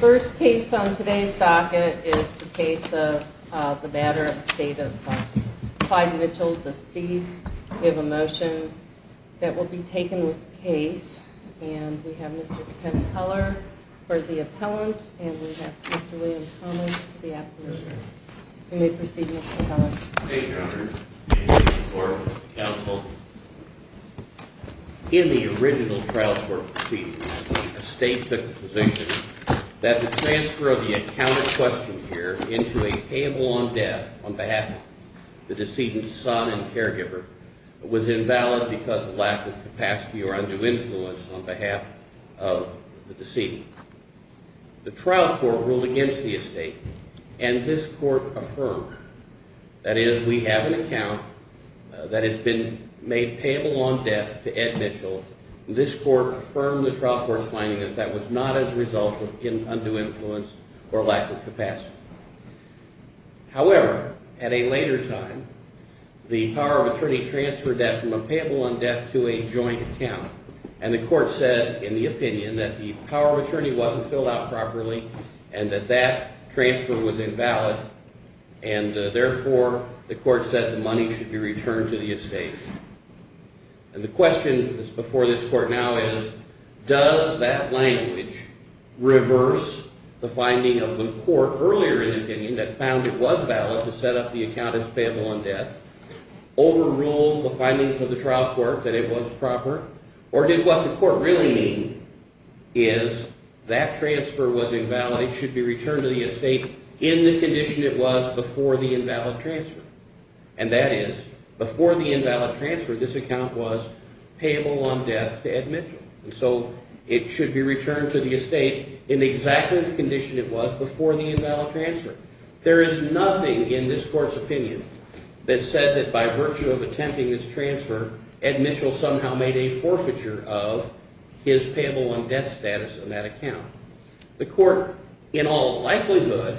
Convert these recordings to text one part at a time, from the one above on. First case on today's docket is the case of the Matter of Estate of Clyde Mitchell, deceased. We have a motion that will be taken with the case. And we have Mr. Penn Teller for the appellant, and we have Mr. William Common for the appellant. You may proceed, Mr. Teller. Thank you, Your Honor. Your Honor, counsel, in the original trial court proceedings, the estate took the position that the transfer of the accounted question here into a payable on death on behalf of the decedent's son and caregiver was invalid because of lack of capacity or undue influence on behalf of the decedent. The trial court ruled against the estate, and this court affirmed. That is, we have an account that has been made payable on death to Ed Mitchell. This court affirmed the trial court's finding that that was not as a result of undue influence or lack of capacity. However, at a later time, the power of attorney transferred that from a payable on death to a joint account. And the court said in the opinion that the power of attorney wasn't filled out properly and that that transfer was invalid. And therefore, the court said the money should be returned to the estate. And the question before this court now is, does that language reverse the finding of the court earlier in the opinion that found it was valid to set up the account as payable on death, overrule the findings of the trial court that it was proper, or did what the court really mean is that transfer was invalid, it should be returned to the estate in the condition it was before the invalid transfer. And that is, before the invalid transfer, this account was payable on death to Ed Mitchell. And so it should be returned to the estate in exactly the condition it was before the invalid transfer. There is nothing in this court's opinion that said that by virtue of attempting this transfer, Ed Mitchell somehow made a forfeiture of his payable on death status in that account. The court, in all likelihood,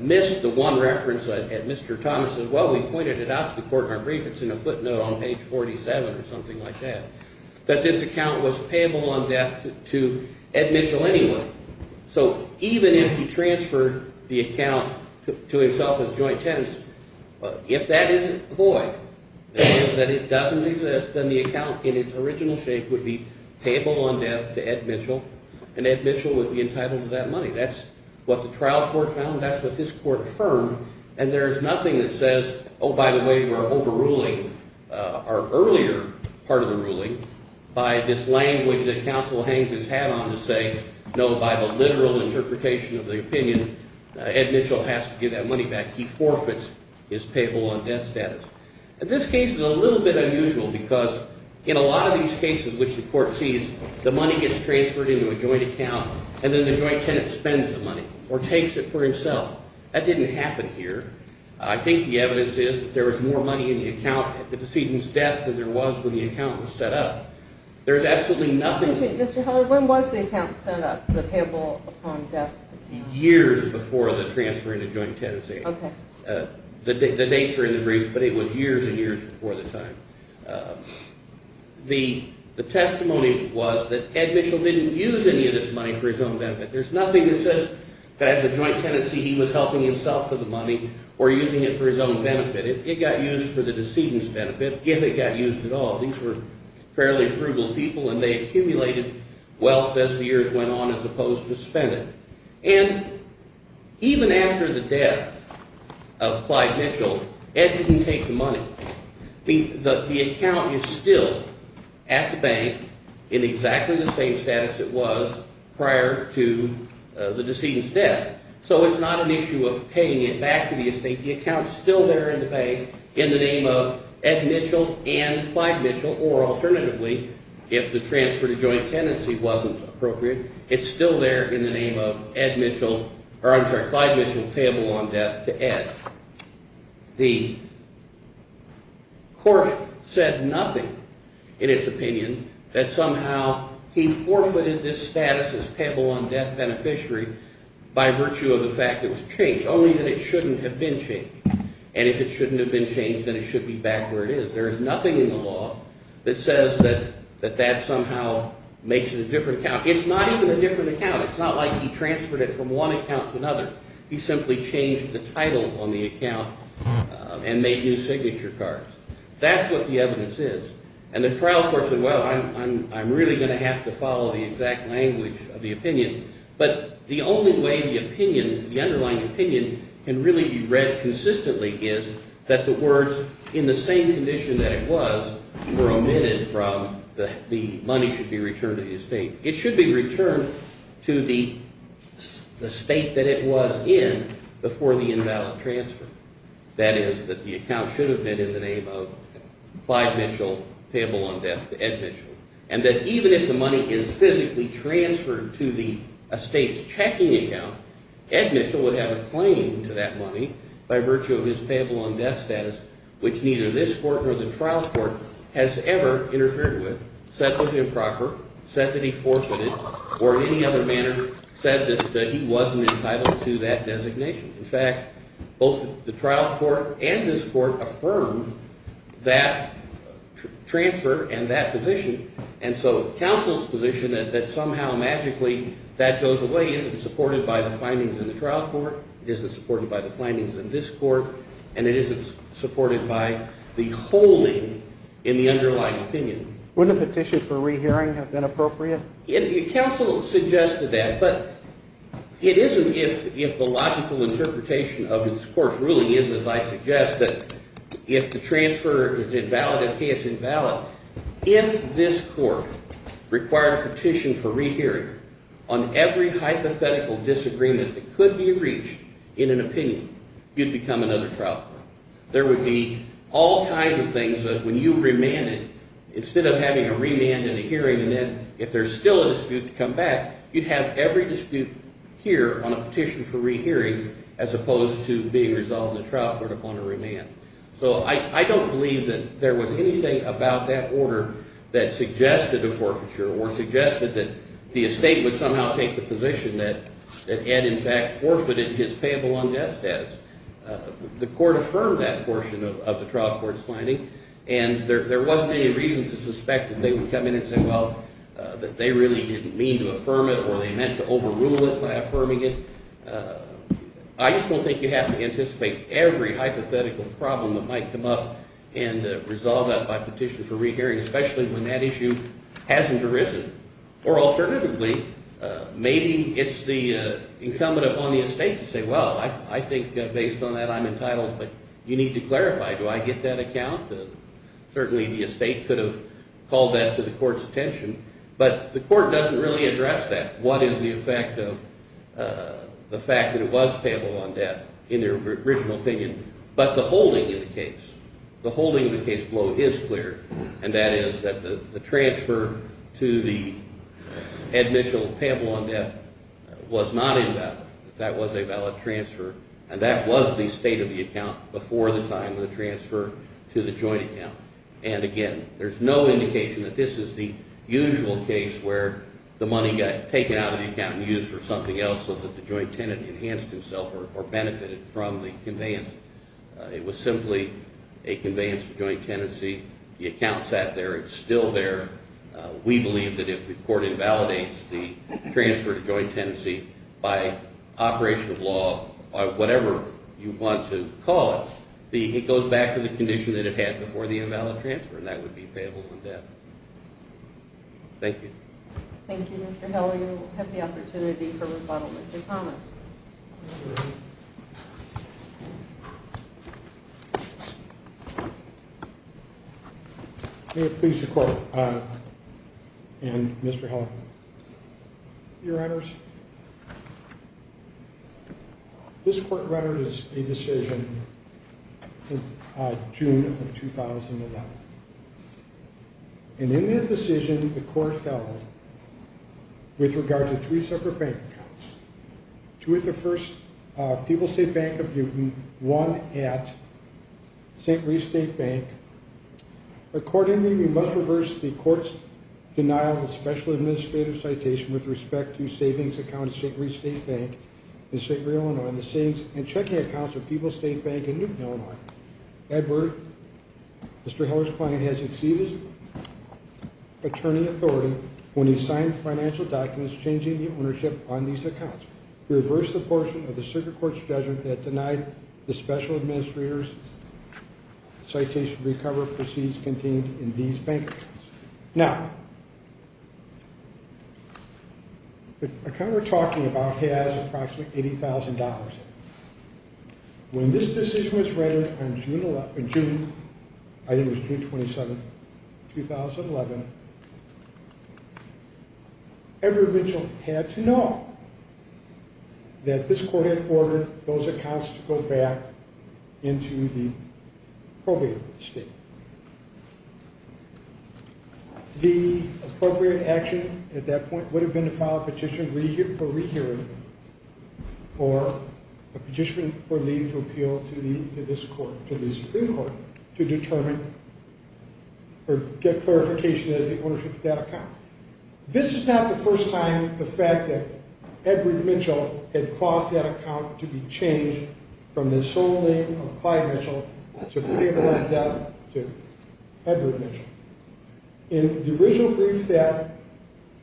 missed the one reference that Mr. Thomas said. Well, we pointed it out to the court in our brief. It's in a footnote on page 47 or something like that, that this account was payable on death to Ed Mitchell anyway. So even if he transferred the account to himself as joint tenants, if that isn't void, that is, that it doesn't exist, then the account in its original shape would be payable on death to Ed Mitchell, and Ed Mitchell would be entitled to that money. That's what the trial court found. That's what this court affirmed. And there is nothing that says, oh, by the way, we're overruling our earlier part of the ruling by this language that counsel Haines has had on to say, no, by the literal interpretation of the opinion, Ed Mitchell has to give that money back. He forfeits his payable on death status. And this case is a little bit unusual because in a lot of these cases which the court sees, the money gets transferred into a joint account and then the joint tenant spends the money or takes it for himself. That didn't happen here. I think the evidence is that there was more money in the account at the decedent's death than there was when the account was set up. There is absolutely nothing – Excuse me, Mr. Heller, when was the account set up, the payable on death account? Years before the transfer into joint tenancy. Okay. The dates are in the brief, but it was years and years before the time. The testimony was that Ed Mitchell didn't use any of this money for his own benefit. There's nothing that says that as a joint tenancy he was helping himself with the money or using it for his own benefit. It got used for the decedent's benefit if it got used at all. These were fairly frugal people and they accumulated wealth as the years went on as opposed to spending. And even after the death of Clyde Mitchell, Ed didn't take the money. The account is still at the bank in exactly the same status it was prior to the decedent's death. So it's not an issue of paying it back to the estate. The account is still there in the bank in the name of Ed Mitchell and Clyde Mitchell, or alternatively, if the transfer to joint tenancy wasn't appropriate, it's still there in the name of Clyde Mitchell payable on death to Ed. The court said nothing in its opinion that somehow he forfeited this status as payable on death beneficiary by virtue of the fact it was changed, only that it shouldn't have been changed. And if it shouldn't have been changed, then it should be back where it is. There is nothing in the law that says that that somehow makes it a different account. It's not even a different account. It's not like he transferred it from one account to another. He simply changed the title on the account and made new signature cards. That's what the evidence is. And the trial court said, well, I'm really going to have to follow the exact language of the opinion. But the only way the opinion, the underlying opinion, can really be read consistently is that the words, in the same condition that it was, were omitted from the money should be returned to the estate. It should be returned to the estate that it was in before the invalid transfer. That is, that the account should have been in the name of Clyde Mitchell payable on death to Ed Mitchell. And that even if the money is physically transferred to the estate's checking account, Ed Mitchell would have a claim to that money by virtue of his payable on death status, which neither this court nor the trial court has ever interfered with. That was improper, said that he forfeited, or in any other manner said that he wasn't entitled to that designation. In fact, both the trial court and this court affirmed that transfer and that position. And so counsel's position that somehow magically that goes away isn't supported by the findings in the trial court. It isn't supported by the findings in this court. And it isn't supported by the holding in the underlying opinion. Wouldn't a petition for rehearing have been appropriate? Counsel suggested that, but it isn't if the logical interpretation of this court's ruling is, as I suggest, that if the transfer is invalid, if pay is invalid, if this court required a petition for rehearing on every hypothetical disagreement that could be reached in an opinion, you'd become another trial court. There would be all kinds of things that when you remanded, instead of having a remand and a hearing, and then if there's still a dispute to come back, you'd have every dispute here on a petition for rehearing as opposed to being resolved in the trial court upon a remand. So I don't believe that there was anything about that order that suggested a forfeiture or suggested that the estate would somehow take the position that Ed in fact forfeited his payable on death status. The court affirmed that portion of the trial court's finding, and there wasn't any reason to suspect that they would come in and say, well, that they really didn't mean to affirm it or they meant to overrule it by affirming it. I just don't think you have to anticipate every hypothetical problem that might come up and resolve that by petition for rehearing, especially when that issue hasn't arisen. Or alternatively, maybe it's the incumbent upon the estate to say, well, I think based on that I'm entitled, but you need to clarify, do I get that account? Certainly the estate could have called that to the court's attention, but the court doesn't really address that. What is the effect of the fact that it was payable on death in their original opinion, but the holding in the case, the holding in the case below is clear, and that is that the transfer to the admissional payable on death was not invalid. That was a valid transfer, and that was the state of the account before the time of the transfer to the joint account. And again, there's no indication that this is the usual case where the money got taken out of the account and used for something else so that the joint tenant enhanced himself or benefited from the conveyance. It was simply a conveyance for joint tenancy. The account sat there. It's still there. We believe that if the court invalidates the transfer to joint tenancy by operation of law or whatever you want to call it, it goes back to the condition that it had before the invalid transfer, and that would be payable on death. Thank you. Thank you, Mr. Hill. You have the opportunity for rebuttal, Mr. Thomas. May it please the court and Mr. Hill, your honors. This court record is a decision in June of 2011. And in that decision, the court held with regard to three separate bank accounts, two at the First People's State Bank of Newton, one at St. Louis State Bank. Accordingly, we must reverse the court's denial of the special administrative citation with respect to savings accounts at St. Louis State Bank in St. Louis, Illinois, and the savings and checking accounts at People's State Bank in Newton, Illinois. Edward, Mr. Heller's client, has exceeded his attorney authority when he signed financial documents changing the ownership on these accounts. We reverse the portion of the circuit court's judgment that denied the special administrator's citation to recover proceeds contained in these bank accounts. Now, the account we're talking about has approximately $80,000 in it. When this decision was read in June, I think it was June 27, 2011, Edward Mitchell had to know that this court had ordered those accounts to go back into the appropriate state. The appropriate action at that point would have been to file a petition for rehearing or a petition for leave to appeal to this court, to the Supreme Court, to determine or get clarification as to the ownership of that account. This is not the first time the fact that Edward Mitchell had caused that account to be changed from the sole name of Clyde Mitchell to the name of Edward Mitchell. In the original brief that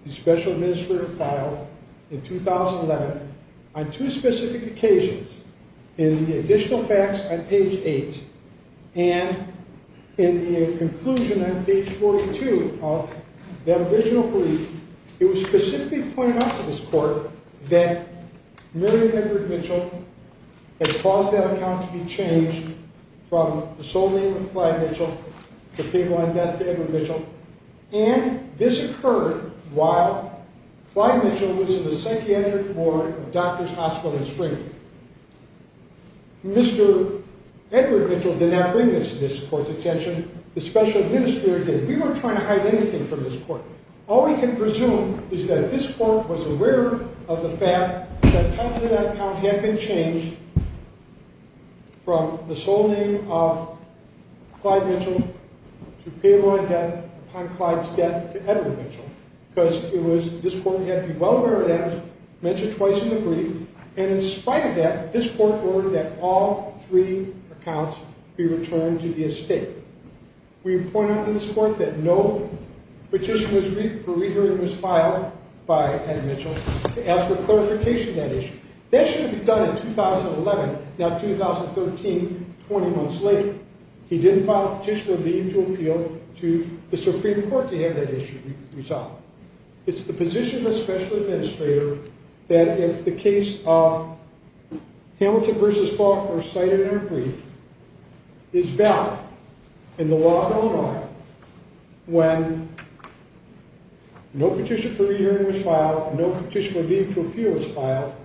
the special administrator filed in 2011, on two specific occasions, in the additional facts on page 8, and in the conclusion on page 42 of that original brief, it was specifically pointed out to this court that Mary Edward Mitchell had caused that account to be changed from the sole name of Clyde Mitchell to people on death to Edward Mitchell, and this occurred while Clyde Mitchell was in the psychiatric ward of Doctors Hospital in Springfield. Mr. Edward Mitchell did not bring this to this court's attention. The special administrator did. We weren't trying to hide anything from this court. All we can presume is that this court was aware of the fact that Clyde Mitchell to people on death upon Clyde's death to Edward Mitchell, because this court had to be well aware of that. It was mentioned twice in the brief, and in spite of that, this court ordered that all three accounts be returned to the estate. We pointed out to this court that no petition for rehearing was filed by Edward Mitchell to ask for clarification of that issue. That should have been done in 2011. Now, 2013, 20 months later, he didn't file a petition or leave to appeal to the Supreme Court to have that issue resolved. It's the position of the special administrator that if the case of Hamilton v. Faulkner cited in our brief is valid in the law of Illinois, when no petition for rehearing was filed, no petition for leave to appeal was filed,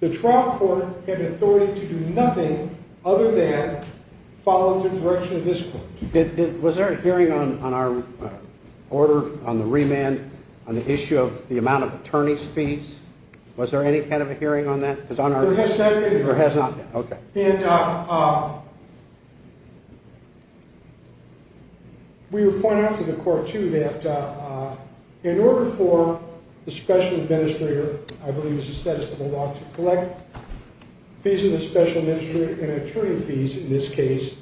the trial court had authority to do nothing other than follow the direction of this court. Was there a hearing on our order on the remand on the issue of the amount of attorney's fees? Was there any kind of a hearing on that? There has not been. There has not been. Okay. We were pointing out to the court, too, that in order for the special administrator, I believe it's the status of the law to collect fees of the special administrator and attorney fees in this case,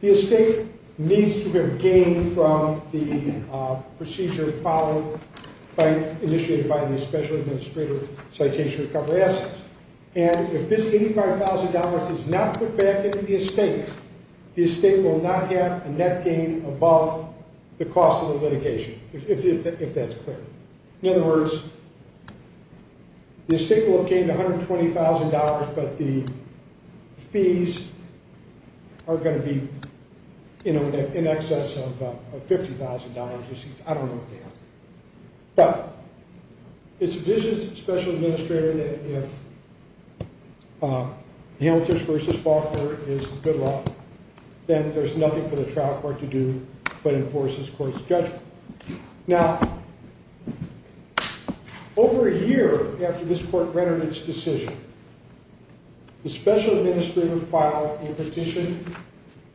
the estate needs to have gained from the procedure followed by, initiated by the special administrator citation recovery assets. And if this $85,000 is not put back into the estate, the estate will not have a net gain above the cost of the litigation, if that's clear. In other words, the estate will have gained $120,000, but the fees are going to be in excess of $50,000. I don't know what the answer is. But it's the position of the special administrator that if Hamilton versus Faulkner is good law, then there's nothing for the trial court to do but enforce this court's judgment. Now, over a year after this court rendered its decision, the special administrator filed a petition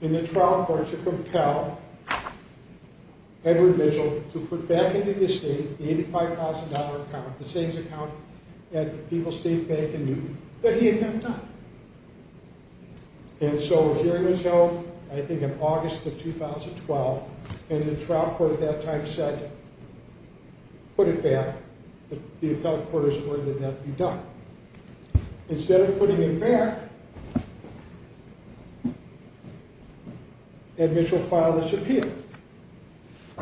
in the trial court to compel Edward Mitchell to put back into the estate the $85,000 account, the savings account at the People's State Bank in Newton, but he had not done it. And so a hearing was held, I think in August of 2012, and the trial court at that time said put it back, but the appellate court is worried that that be done. Instead of putting it back, Ed Mitchell filed this appeal.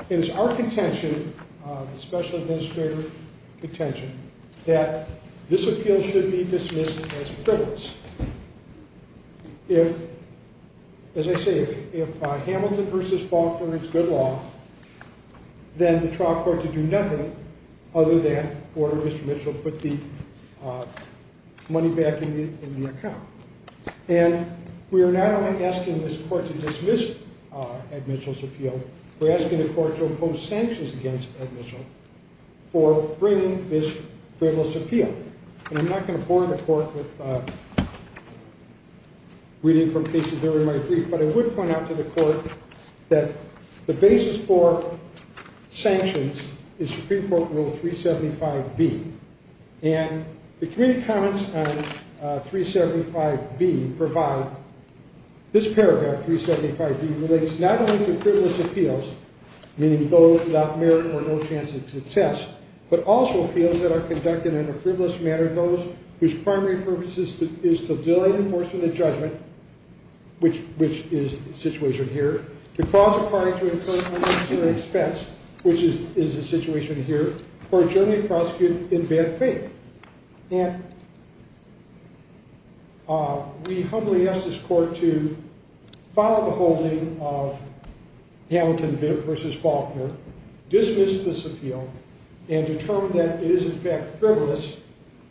It is our contention, the special administrator's contention, that this appeal should be dismissed as frivolous. If, as I say, if Hamilton versus Faulkner is good law, then the trial court can do nothing other than order Mr. Mitchell to put the money back in the account. And we are not only asking this court to dismiss Ed Mitchell's appeal, we're asking the court to impose sanctions against Ed Mitchell for bringing this frivolous appeal. And I'm not going to bore the court with reading from cases during my brief, but I would point out to the court that the basis for sanctions is Supreme Court Rule 375B, and the committee comments on 375B provide this paragraph, 375B, relates not only to frivolous appeals, meaning those without merit or no chance of success, but also appeals that are conducted in a frivolous manner, those whose primary purpose is to delay enforcement of judgment, which is the situation here, to cause a party to incur unnecessary expense, which is the situation here, or adjourn a prosecutor in bad faith. And we humbly ask this court to follow the holding of Hamilton versus Faulkner, dismiss this appeal, and determine that it is, in fact, frivolous,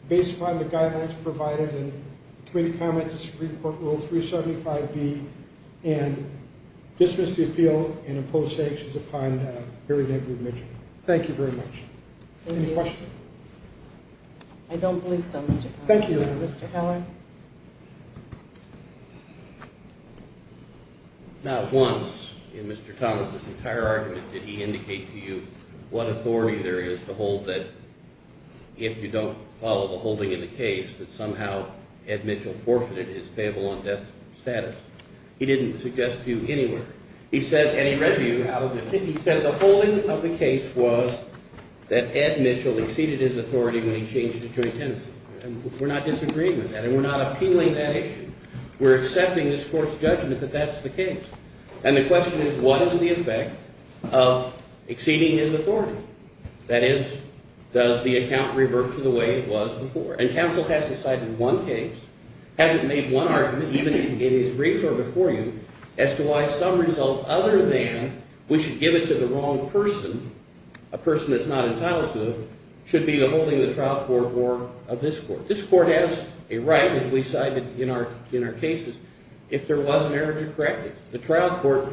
based upon the guidelines provided in the committee comments of Supreme Court Rule 375B, and dismiss the appeal and impose sanctions upon Harry W. Mitchell. Thank you very much. Any questions? I don't believe so, Mr. Thomas. Thank you. Mr. Heller? Not once in Mr. Thomas' entire argument did he indicate to you what authority there is to hold that if you don't follow the holding in the case that somehow Ed Mitchell forfeited his payable on death status. He didn't suggest to you anywhere. He said the holding of the case was that Ed Mitchell exceeded his authority when he changed to joint tenancy. And we're not disagreeing with that, and we're not appealing that issue. We're accepting this court's judgment that that's the case. And the question is, what is the effect of exceeding his authority? That is, does the account revert to the way it was before? And counsel hasn't cited one case, hasn't made one argument, even in his brief or before you, as to why some result other than we should give it to the wrong person, a person that's not entitled to it, should be the holding of the trial court or of this court. This court has a right, as we cited in our cases, if there was an error to correct it. The trial court,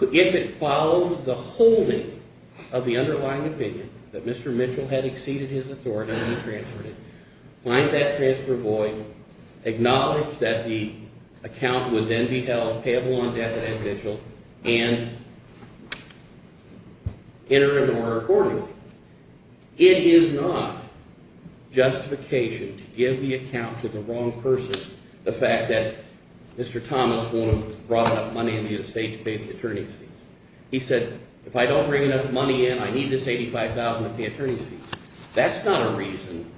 if it followed the holding of the underlying opinion that Mr. Mitchell had exceeded his authority when he transferred it, find that transfer void, acknowledge that the account would then be held, payable on death of Ed Mitchell, and enter into order accordingly. It is not justification to give the account to the wrong person, the fact that Mr. Thomas won't have brought enough money in the estate to pay the attorney's fees. He said, if I don't bring enough money in, I need this $85,000 to pay attorney's fees. That's not a reason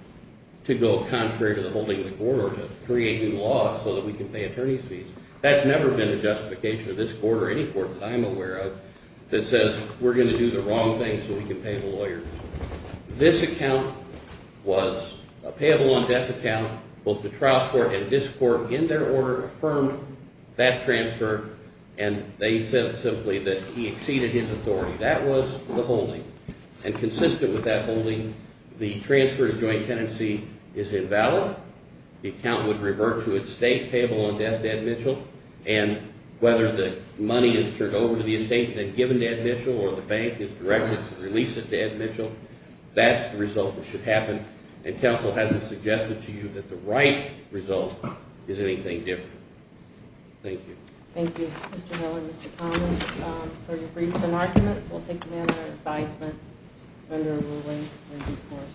to go contrary to the holding of the court or to create new laws so that we can pay attorney's fees. That's never been a justification of this court or any court that I'm aware of that says we're going to do the wrong thing so we can pay the lawyers. This account was a payable on death account. Both the trial court and this court, in their order, affirmed that transfer, and they said simply that he exceeded his authority. That was the holding. And consistent with that holding, the transfer to joint tenancy is invalid. The account would revert to its state payable on death, Ed Mitchell, and whether the money is turned over to the estate and then given to Ed Mitchell or the bank is directed to release it to Ed Mitchell, that's the result that should happen. And counsel hasn't suggested to you that the right result is anything different. Thank you. Thank you, Mr. Miller and Mr. Thomas, for your briefs and argument. We'll take them under advisement under a ruling in due course.